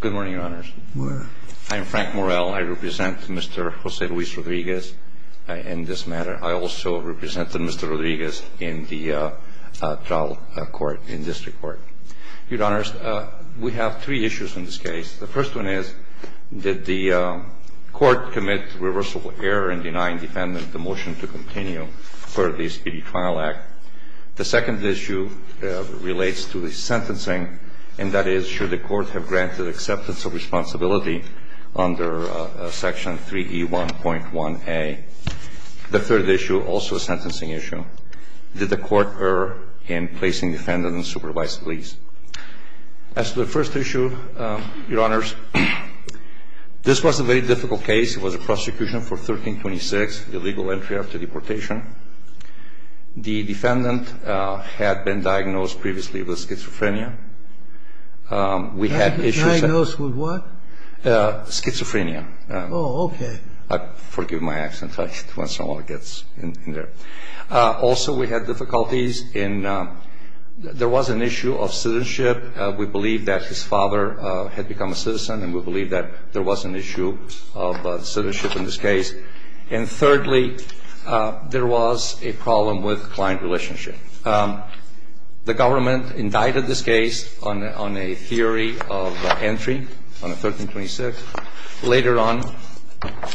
Good morning, Your Honors. I am Frank Morel. I represent Mr. Jose Luis Rodriguez in this matter. I also represent Mr. Rodriguez in the trial court, in district court. Your Honors, we have three issues in this case. The first one is, did the court commit reversible error in denying defendant the motion to continue for the SPD trial act? The second issue relates to the sentencing, and that is, should the court have granted acceptance of responsibility under Section 3E1.1a? The third issue, also a sentencing issue, did the court err in placing defendant in supervised release? As to the first issue, Your Honors, this was a very difficult case. It was a prosecution for 1326, the legal entry after deportation. The defendant had been diagnosed previously with schizophrenia. We had issues... Diagnosed with what? Schizophrenia. Oh, okay. Forgive my accent. I don't want someone to get in there. Also, we had difficulties in, there was an issue of citizenship. We believe that his father had become a citizen, and we believe that there was an issue of citizenship in this case. And thirdly, there was a problem with client relationship. The government indicted this case on a theory of entry, on a 1326. Later on,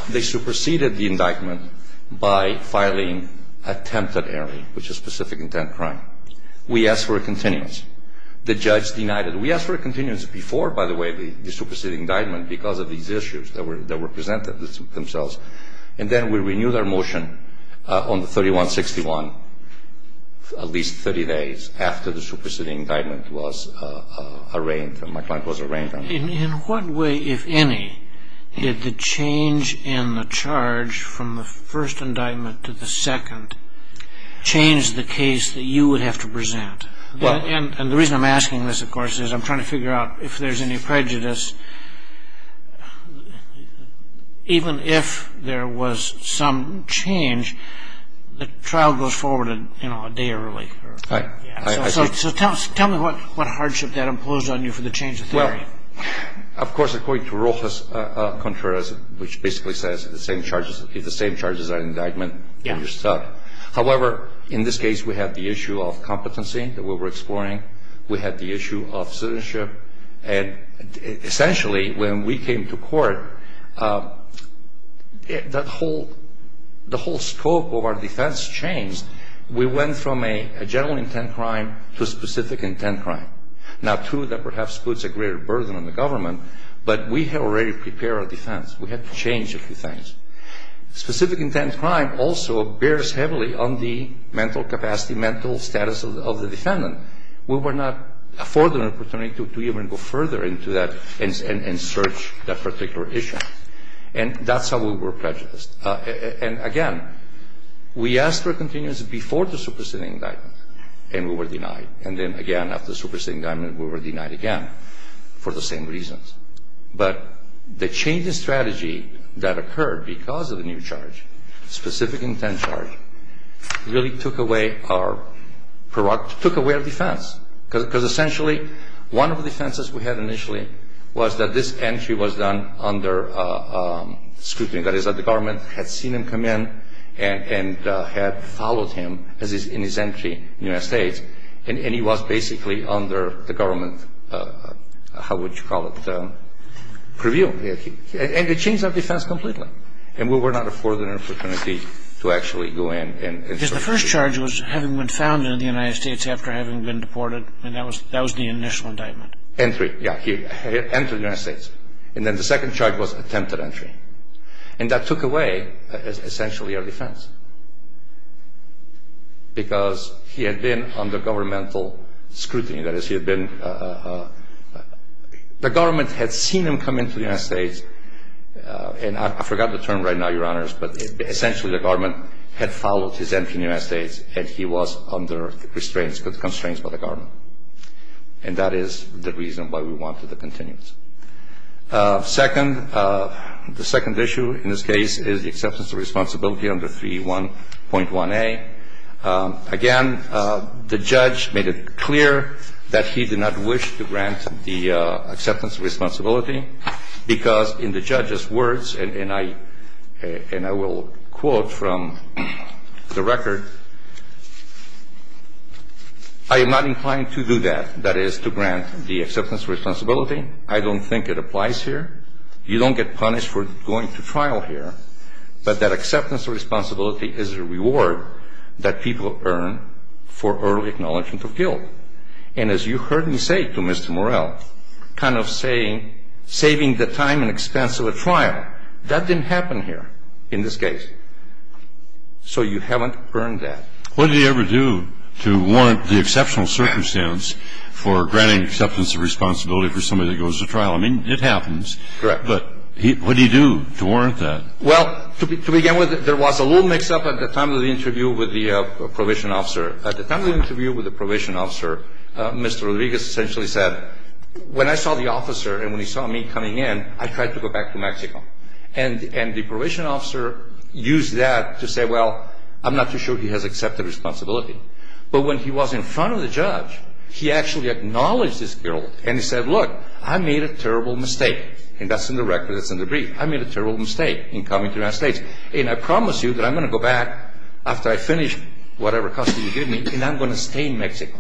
they superseded the indictment by filing attempted error, which is specific intent crime. We asked for a continuance. The judge denied it. We asked for a continuance before, by the way, the superseding indictment because of these issues that were presented themselves. And then we renewed our motion on the 3161, at least 30 days after the superseding indictment was arraigned, and my client was arraigned. In what way, if any, did the change in the charge from the first indictment to the second change the case that you would have to present? And the reason I'm asking this, of course, is I'm trying to figure out if there's any prejudice. Even if there was some change, the trial goes forward, you know, a day early. So tell me what hardship that imposed on you for the change of theory. Of course, according to Rocha's Contreras, which basically says the same charges, if the same charges are indictment, then you're stuck. However, in this case, we have the issue of competency that we were exploring. We had the issue of citizenship. And essentially, when we came to court, the whole scope of our defense changed. We went from a general intent crime to a specific intent crime. Now, two that perhaps puts a greater burden on the government, but we had already prepared our defense. We had to change a few things. Specific intent crime also bears heavily on the mental capacity, mental status of the defendant. We were not afforded an opportunity to even go further into that and search that particular issue. And that's how we were prejudiced. And, again, we asked for a continuance before the superseding indictment, and we were denied. And then, again, after the superseding indictment, we were denied again for the same reasons. But the change in strategy that occurred because of the new charge, specific intent charge, really took away our defense. Because essentially, one of the defenses we had initially was that this entry was done under scrutiny. That is, that the government had seen him come in and had followed him in his entry in the United States. And he was basically under the government, how would you call it, preview. And it changed our defense completely. And we were not afforded an opportunity to actually go in and search. Because the first charge was having been found in the United States after having been deported. And that was the initial indictment. Entry, yeah. He entered the United States. And then the second charge was attempted entry. And that took away, essentially, our defense. Because he had been under governmental scrutiny. That is, he had been, the government had seen him come into the United States. And I forgot the term right now, your honors, but essentially the government had followed his entry in the United States. And he was under restraints, constraints by the government. And that is the reason why we wanted a continuance. Second, the second issue in this case is the acceptance of responsibility under 3.1A. Again, the judge made it clear that he did not wish to grant the acceptance of responsibility. Because in the judge's words, and I will quote from the record, I am not inclined to do that. I don't think it applies here. You don't get punished for going to trial here. But that acceptance of responsibility is a reward that people earn for early acknowledgement of guilt. And as you heard me say to Mr. Morell, kind of saying, saving the time and expense of a trial. That didn't happen here in this case. So you haven't earned that. What did he ever do to warrant the exceptional circumstance for granting acceptance of responsibility for somebody that goes to trial? I mean, it happens. Correct. But what did he do to warrant that? Well, to begin with, there was a little mix-up at the time of the interview with the probation officer. At the time of the interview with the probation officer, Mr. Rodriguez essentially said, when I saw the officer and when he saw me coming in, I tried to go back to Mexico. And the probation officer used that to say, well, I'm not too sure he has accepted responsibility. But when he was in front of the judge, he actually acknowledged his guilt. And he said, look, I made a terrible mistake. And that's in the record. That's in the brief. I made a terrible mistake in coming to the United States. And I promise you that I'm going to go back after I finish whatever custody you give me and I'm going to stay in Mexico.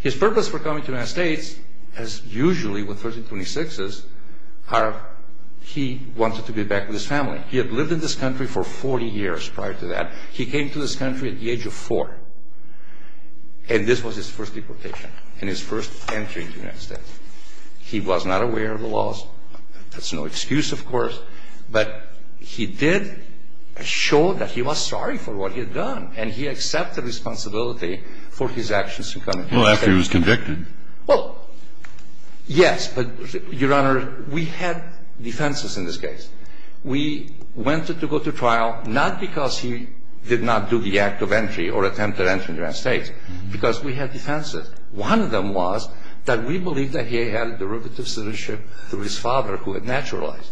His purpose for coming to the United States, as usually with 1326s, are he wanted to be back with his family. He had lived in this country for 40 years prior to that. He came to this country at the age of four. And this was his first deportation and his first entry into the United States. He was not aware of the laws. That's no excuse, of course. But he did show that he was sorry for what he had done. And he accepted responsibility for his actions in coming to the United States. Well, after he was convicted. Well, yes. But, Your Honor, we had defenses in this case. We wanted to go to trial not because he did not do the act of entry or attempt to enter the United States. Because we had defenses. One of them was that we believed that he had a derivative citizenship through his father who had naturalized.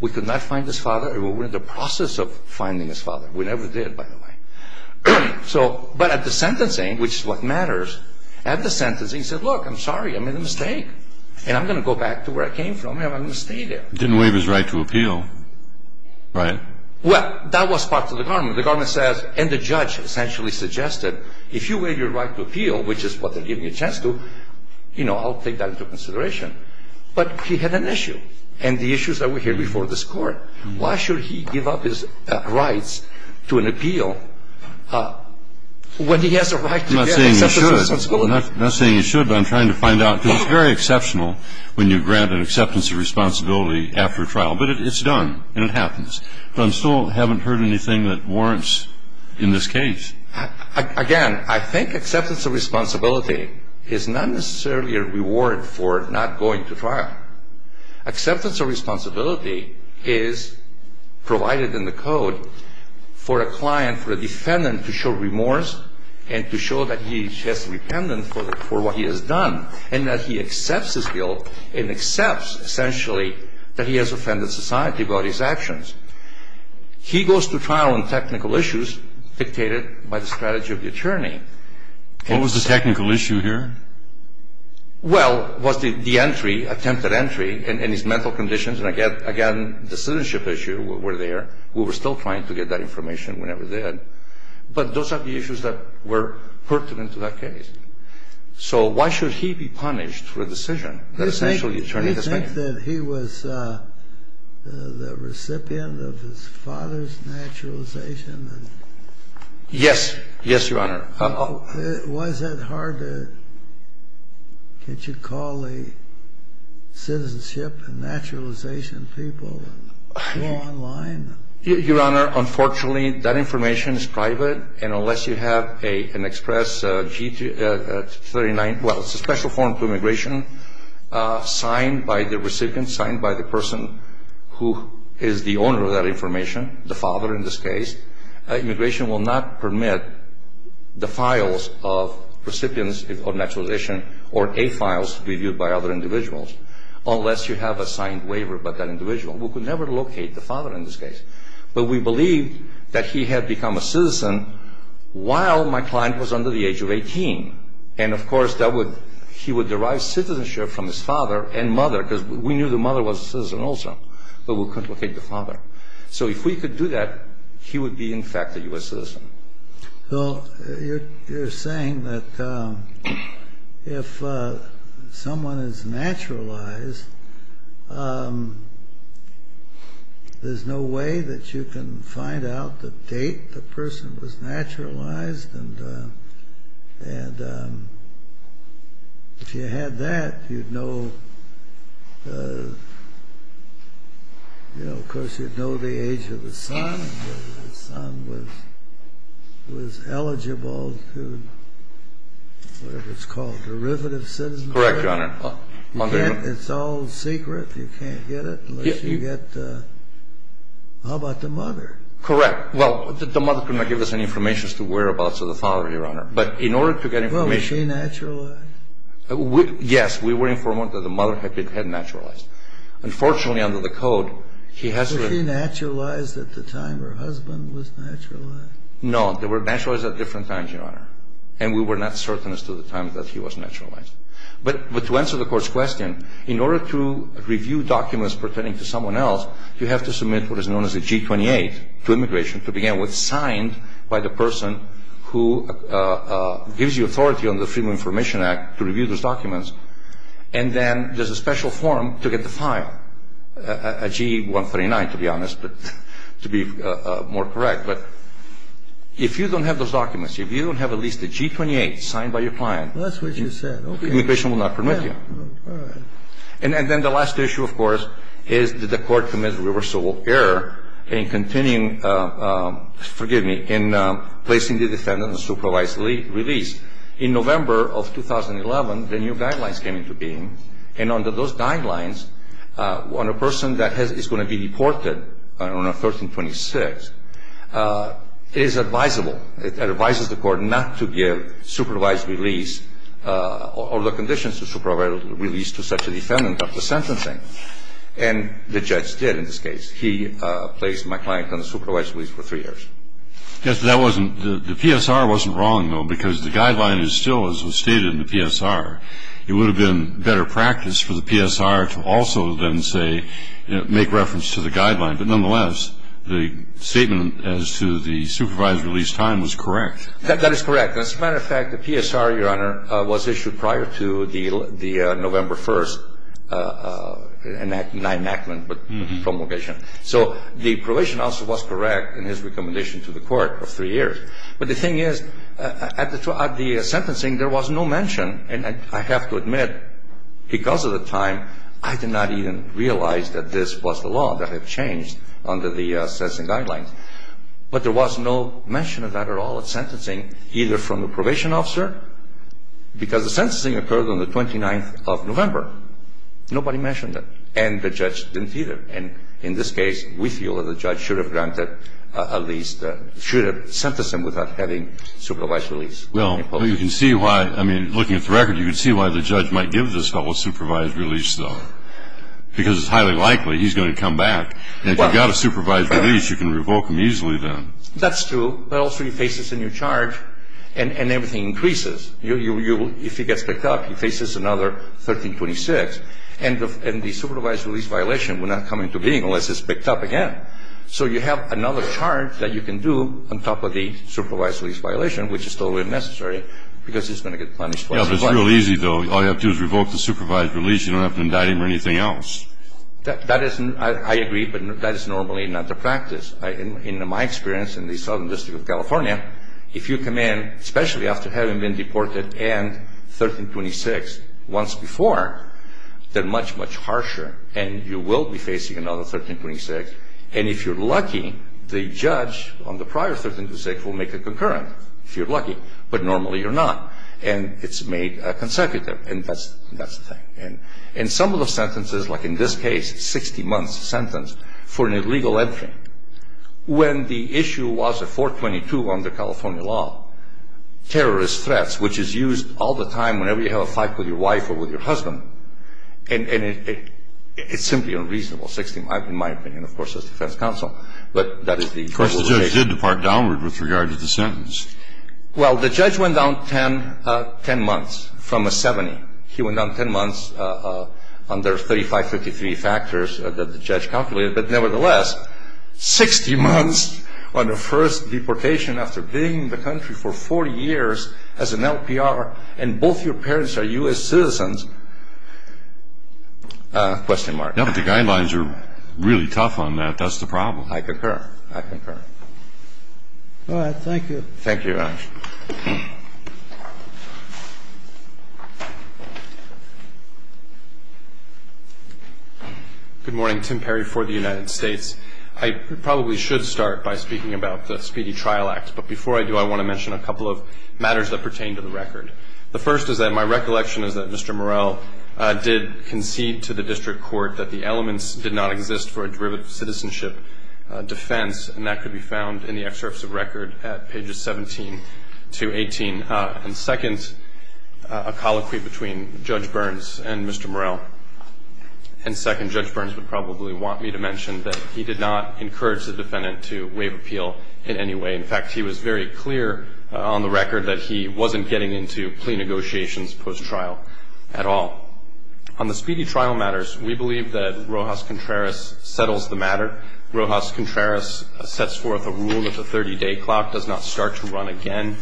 We could not find his father. We were in the process of finding his father. We never did, by the way. But at the sentencing, which is what matters, at the sentencing, he said, Look, I'm sorry, I made a mistake. And I'm going to go back to where I came from and I'm going to stay there. He didn't waive his right to appeal, right? Well, that was part of the government. The government says, and the judge essentially suggested, If you waive your right to appeal, which is what they're giving you a chance to, you know, I'll take that into consideration. But he had an issue. And the issue is that we're here before this Court. Why should he give up his rights to an appeal when he has a right to get acceptance of responsibility? I'm not saying you should. I'm not saying you should, but I'm trying to find out. Because it's very exceptional when you grant an acceptance of responsibility after trial. But it's done and it happens. But I still haven't heard anything that warrants in this case. Again, I think acceptance of responsibility is not necessarily a reward for not going to trial. Acceptance of responsibility is provided in the code for a client, for a defendant, to show remorse and to show that he is just repentant for what he has done and that he accepts his guilt and accepts essentially that he has offended society about his actions. He goes to trial on technical issues dictated by the strategy of the attorney. What was the technical issue here? Well, was the entry, attempted entry, and his mental conditions. And, again, the citizenship issue were there. We were still trying to get that information whenever we did. But those are the issues that were pertinent to that case. So why should he be punished for a decision that essentially turned him in? Do you think that he was the recipient of his father's naturalization? Yes. Yes, Your Honor. Why is it hard to call the citizenship and naturalization people online? Your Honor, unfortunately, that information is private. And unless you have an express G-39, well, it's a special form for immigration, signed by the recipient, signed by the person who is the owner of that information, the father in this case, immigration will not permit the files of recipients of naturalization or A-files reviewed by other individuals unless you have a signed waiver by that individual. We could never locate the father in this case. But we believe that he had become a citizen while my client was under the age of 18. And, of course, he would derive citizenship from his father and mother because we knew the mother was a citizen also. But we couldn't locate the father. So if we could do that, he would be, in fact, a U.S. citizen. Well, you're saying that if someone is naturalized, there's no way that you can find out the date the person was naturalized. And if you had that, you'd know, of course, you'd know the age of the son. The son was eligible to, whatever it's called, derivative citizenship. Correct, Your Honor. It's all secret. You can't get it unless you get, how about the mother? Correct. Well, the mother could not give us any information as to whereabouts of the father, Your Honor. But in order to get information... Well, was she naturalized? Yes. We were informed that the mother had been naturalized. Unfortunately, under the code, he has... Was she naturalized at the time her husband was naturalized? No. They were naturalized at different times, Your Honor. And we were not certain as to the time that he was naturalized. But to answer the Court's question, in order to review documents pertaining to someone else, you have to submit what is known as a G-28 to immigration to begin with, signed by the person who gives you authority on the Freedom of Information Act to review those documents. And then there's a special form to get the file, a G-139, to be honest, to be more correct. But if you don't have those documents, if you don't have at least a G-28 signed by your client... That's what you said. Immigration will not permit you. All right. And then the last issue, of course, is did the Court commit a reversible error in continuing... Forgive me. In placing the defendant on supervised release. In November of 2011, the new guidelines came into being. And under those guidelines, on a person that is going to be deported on a 1326, it is advisable. It advises the Court not to give supervised release or the conditions to supervised release to such a defendant after sentencing. And the judge did in this case. He placed my client on supervised release for three years. Yes, but that wasn't. The PSR wasn't wrong, though, because the guideline is still, as was stated in the PSR, it would have been better practice for the PSR to also then say, make reference to the guideline. But nonetheless, the statement as to the supervised release time was correct. That is correct. As a matter of fact, the PSR, Your Honor, was issued prior to the November 1st enactment, but the promulgation. So the provision also was correct in his recommendation to the Court of three years. But the thing is, at the sentencing, there was no mention. And I have to admit, because of the time, I did not even realize that this was the law that had changed under the sentencing guidelines. But there was no mention of that at all at sentencing, either from the probation officer, because the sentencing occurred on the 29th of November. Nobody mentioned it. And the judge didn't either. And in this case, we feel that the judge should have granted at least, should have sentenced him without having supervised release. Well, you can see why. I mean, looking at the record, you can see why the judge might give this fellow supervised release, though. Because it's highly likely he's going to come back. And if you've got a supervised release, you can revoke him easily then. That's true. But also, he faces a new charge, and everything increases. If he gets picked up, he faces another 1326. And the supervised release violation would not come into being unless it's picked up again. So you have another charge that you can do on top of the supervised release violation, which is totally unnecessary, because he's going to get punished twice as much. Yeah, but it's real easy, though. All you have to do is revoke the supervised release. You don't have to indict him or anything else. That is, I agree, but that is normally not the practice. In my experience in the Southern District of California, if you come in, especially after having been deported and 1326 once before, they're much, much harsher, and you will be facing another 1326. And if you're lucky, the judge on the prior 1326 will make a concurrent, if you're lucky. But normally you're not, and it's made consecutive. And that's the thing. And some of the sentences, like in this case, a 60-month sentence for an illegal entry, when the issue was a 422 under California law, terrorist threats, which is used all the time whenever you have a fight with your wife or with your husband. And it's simply unreasonable, 60 months, in my opinion, of course, as defense counsel. But that is the legalization. Of course, the judge did depart downward with regard to the sentence. Well, the judge went down 10 months from a 70. He went down 10 months under 3553 factors that the judge calculated. But nevertheless, 60 months on the first deportation after being in the country for 40 years as an LPR, and both your parents are U.S. citizens, question mark. Yeah, but the guidelines are really tough on that. That's the problem. I concur. I concur. All right. Thank you. Thank you, Raj. Thank you. Good morning. Tim Perry for the United States. I probably should start by speaking about the Speedy Trial Act. But before I do, I want to mention a couple of matters that pertain to the record. The first is that my recollection is that Mr. Morell did concede to the district court that the elements did not exist for a derivative citizenship defense, and that could be found in the excerpts of record at pages 17 to 18. And second, a colloquy between Judge Burns and Mr. Morell. And second, Judge Burns would probably want me to mention that he did not encourage the defendant to waive appeal in any way. In fact, he was very clear on the record that he wasn't getting into plea negotiations post-trial at all. On the speedy trial matters, we believe that Rojas Contreras settles the matter. Rojas Contreras sets forth a rule that the 30-day clock does not start to run again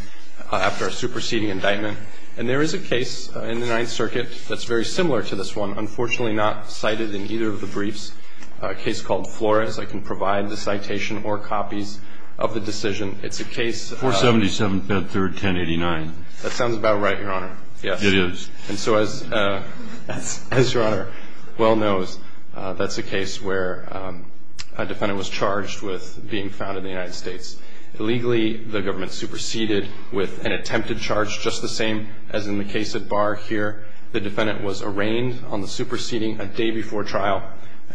after a superseding indictment. And there is a case in the Ninth Circuit that's very similar to this one, unfortunately not cited in either of the briefs, a case called Flores. I can provide the citation or copies of the decision. It's a case of the- 477, 5th, 3rd, 1089. That sounds about right, Your Honor. Yes. It is. And so as Your Honor well knows, that's a case where a defendant was charged with being found in the United States. Illegally, the government superseded with an attempted charge just the same as in the case at Barr here. The defendant was arraigned on the superseding a day before trial,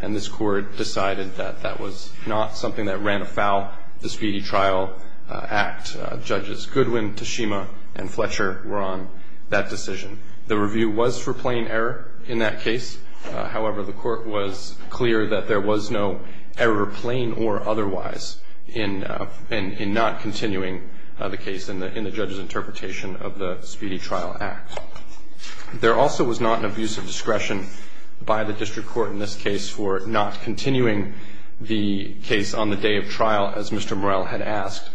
and this court decided that that was not something that ran afoul the speedy trial act. Judges Goodwin, Tashima, and Fletcher were on that decision. The review was for plain error in that case. However, the court was clear that there was no error, plain or otherwise, in not continuing the case in the judge's interpretation of the speedy trial act. There also was not an abuse of discretion by the district court in this case for not continuing the case on the day of trial, as Mr. Morell had asked.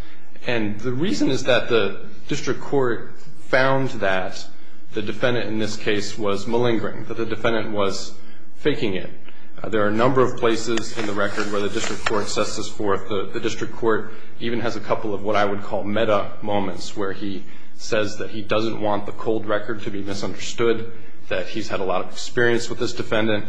And the reason is that the district court found that the defendant in this case was malingering, that the defendant was faking it. There are a number of places in the record where the district court sets this forth. The district court even has a couple of what I would call meta moments where he says that he doesn't want the cold record to be misunderstood, that he's had a lot of experience with this defendant,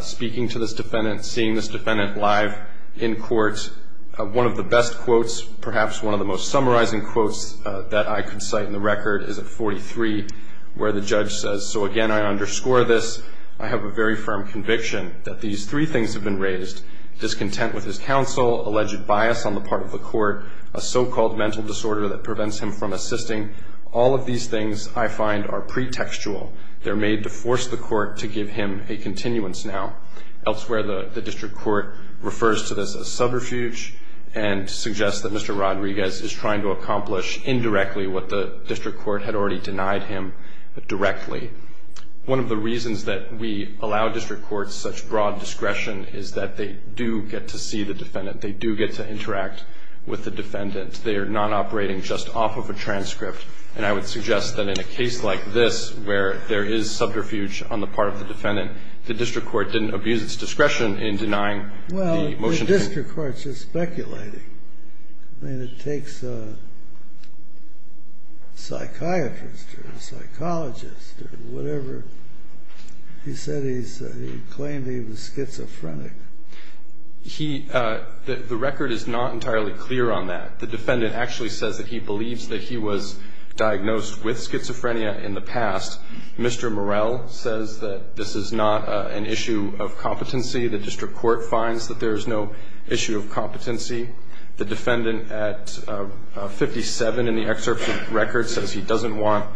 speaking to this defendant, seeing this defendant live in court. One of the best quotes, perhaps one of the most summarizing quotes that I could cite in the record, is at 43 where the judge says, so again, I underscore this. I have a very firm conviction that these three things have been raised, discontent with his counsel, alleged bias on the part of the court, a so-called mental disorder that prevents him from assisting. All of these things, I find, are pretextual. They're made to force the court to give him a continuance now. Elsewhere, the district court refers to this as subterfuge and suggests that Mr. Rodriguez is trying to accomplish indirectly what the district court had already denied him directly. One of the reasons that we allow district courts such broad discretion is that they do get to see the defendant. They do get to interact with the defendant. They are not operating just off of a transcript, and I would suggest that in a case like this, where there is subterfuge on the part of the defendant, the district court didn't abuse its discretion in denying the motion. Well, the district court's just speculating. I mean, it takes a psychiatrist or a psychologist or whatever. He said he claimed he was schizophrenic. He, the record is not entirely clear on that. The defendant actually says that he believes that he was diagnosed with schizophrenia in the past. Mr. Morell says that this is not an issue of competency. The district court finds that there is no issue of competency. The defendant at 57 in the excerpt from the record says he doesn't want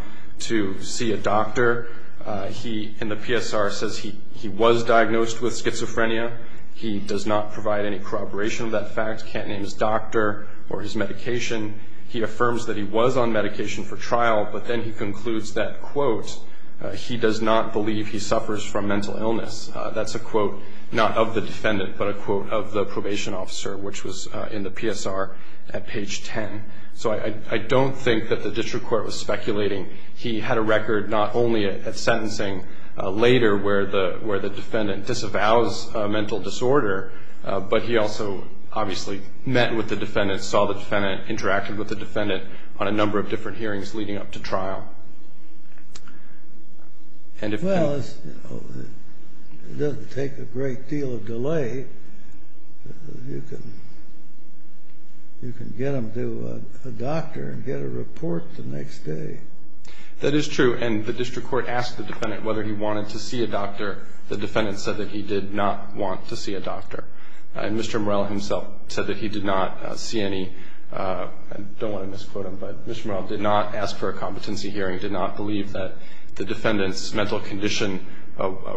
to see a doctor. He, in the PSR, says he was diagnosed with schizophrenia. He does not provide any corroboration of that fact. He can't name his doctor or his medication. He affirms that he was on medication for trial, but then he concludes that, quote, he does not believe he suffers from mental illness. That's a quote not of the defendant, but a quote of the probation officer, which was in the PSR at page 10. So I don't think that the district court was speculating. He had a record not only at sentencing later where the defendant disavows a mental disorder, but he also obviously met with the defendant, saw the defendant, interacted with the defendant on a number of different hearings leading up to trial. Well, it doesn't take a great deal of delay. You can get him to a doctor and get a report the next day. That is true, and the district court asked the defendant whether he wanted to see a doctor. The defendant said that he did not want to see a doctor. And Mr. Morell himself said that he did not see any, I don't want to misquote him, but Mr. Morell did not ask for a competency hearing, did not believe that the defendant's mental condition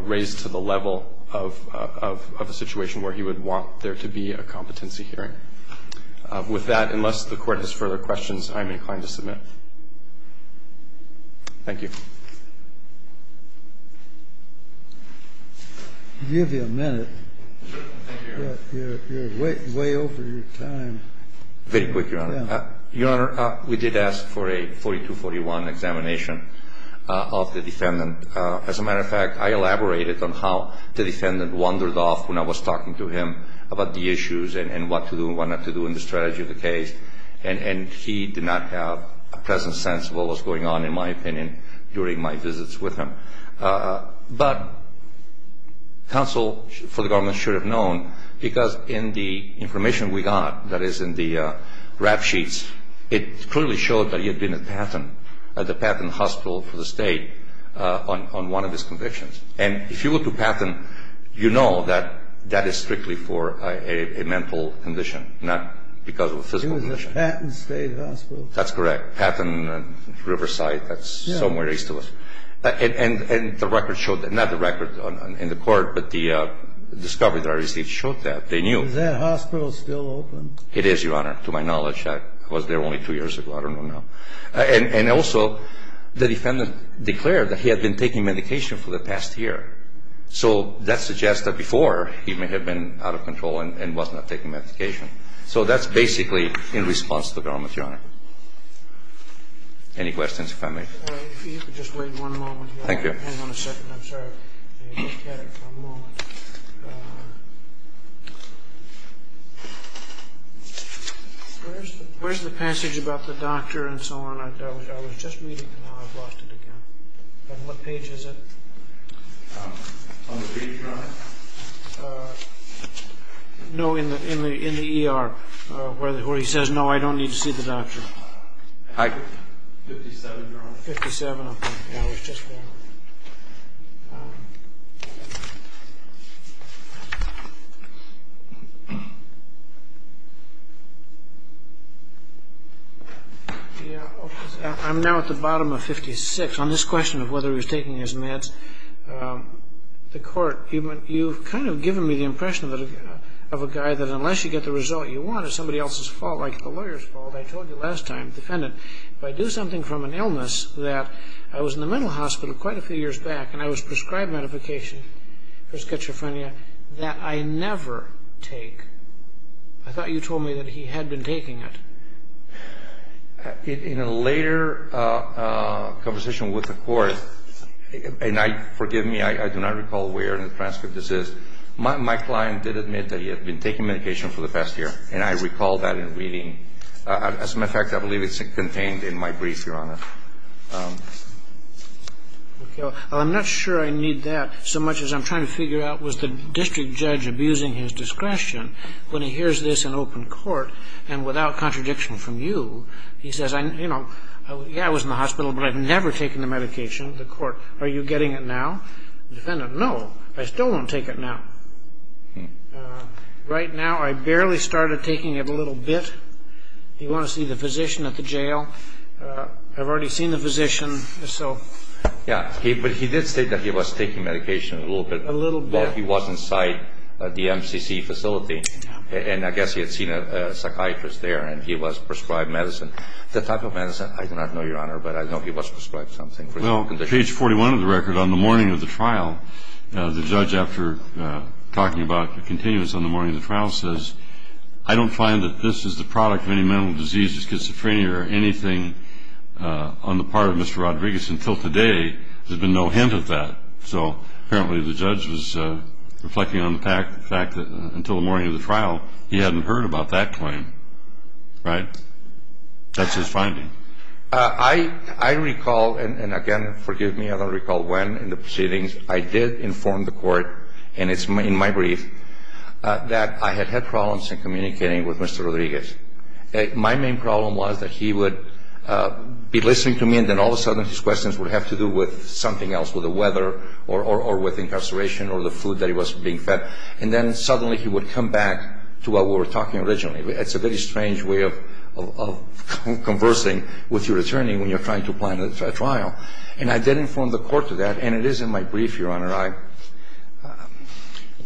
raised to the level of a situation where he would want there to be a competency hearing. With that, unless the court has further questions, I am inclined to submit. Thank you. I'll give you a minute. Thank you, Your Honor. You're way over your time. Very quick, Your Honor. Your Honor, we did ask for a 4241 examination of the defendant. As a matter of fact, I elaborated on how the defendant wandered off when I was talking to him about the issues and what to do and what not to do in the strategy of the case, and he did not have a present sense of what was going on, in my opinion, during my visits with him. But counsel for the government should have known, because in the information we got, that is in the rap sheets, it clearly showed that he had been at Patton, at the Patton Hospital for the State, on one of his convictions. And if you go to Patton, you know that that is strictly for a mental condition, not because of a physical condition. It was a Patton State Hospital. That's correct. Patton and Riverside, that's somewhere east of us. And the record showed that, not the record in the court, but the discovery that I received showed that. They knew. Is that hospital still open? It is, Your Honor, to my knowledge. It was there only two years ago. I don't know now. And also, the defendant declared that he had been taking medication for the past year. So that suggests that before, he may have been out of control and was not taking medication. So that's basically in response to the government, Your Honor. Any questions, if I may? If you could just wait one moment here. Thank you. Hang on a second, I'm sorry. Where's the passage about the doctor and so on? I was just reading it and now I've lost it again. On what page is it? On the page, Your Honor. No, in the ER, where he says, no, I don't need to see the doctor. Hi. Fifty-seven, Your Honor. Fifty-seven, okay. Yeah, I was just there. I'm now at the bottom of 56. On this question of whether he was taking his meds, the court, you've kind of given me the impression of a guy that unless you get the result you want, it's somebody else's fault, like the lawyer's fault. I told you last time, defendant, if I do something from an illness that I was in the mental hospital quite a few years back and I was prescribed medication for schizophrenia that I never take, I thought you told me that he had been taking it. In a later conversation with the court, and forgive me, I do not recall where in the transcript this is, my client did admit that he had been taking medication for the past year. And I recall that in reading. As a matter of fact, I believe it's contained in my brief, Your Honor. Well, I'm not sure I need that so much as I'm trying to figure out was the district judge abusing his discretion when he hears this in open court, and without contradiction from you, he says, you know, yeah, I was in the hospital, but I've never taken the medication. The court, are you getting it now? The defendant, no, I still won't take it now. Right now, I barely started taking it a little bit. If you want to see the physician at the jail, I've already seen the physician, so. Yeah, but he did state that he was taking medication a little bit. A little bit. While he was inside the MCC facility, and I guess he had seen a psychiatrist there, and he was prescribed medicine. The type of medicine, I do not know, Your Honor, but I know he was prescribed something. Well, page 41 of the record, on the morning of the trial, the judge, after talking about the continuance on the morning of the trial, says, I don't find that this is the product of any mental disease, schizophrenia, or anything on the part of Mr. Rodriguez until today. There's been no hint of that. So apparently the judge was reflecting on the fact that until the morning of the trial, he hadn't heard about that claim. Right? That's his finding. I recall, and again, forgive me, I don't recall when in the proceedings, I did inform the court, and it's in my brief, that I had had problems in communicating with Mr. Rodriguez. My main problem was that he would be listening to me, and then all of a sudden his questions would have to do with something else, with the weather, or with incarceration, or the food that he was being fed. And then suddenly he would come back to what we were talking originally. It's a very strange way of conversing with your attorney when you're trying to plan a trial. And I did inform the court of that, and it is in my brief, Your Honor.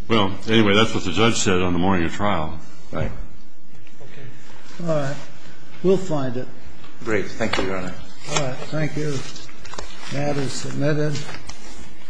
Well, anyway, that's what the judge said on the morning of trial. Right. Okay. All right. We'll find it. Great. Thank you, Your Honor. All right. Thank you. That is submitted.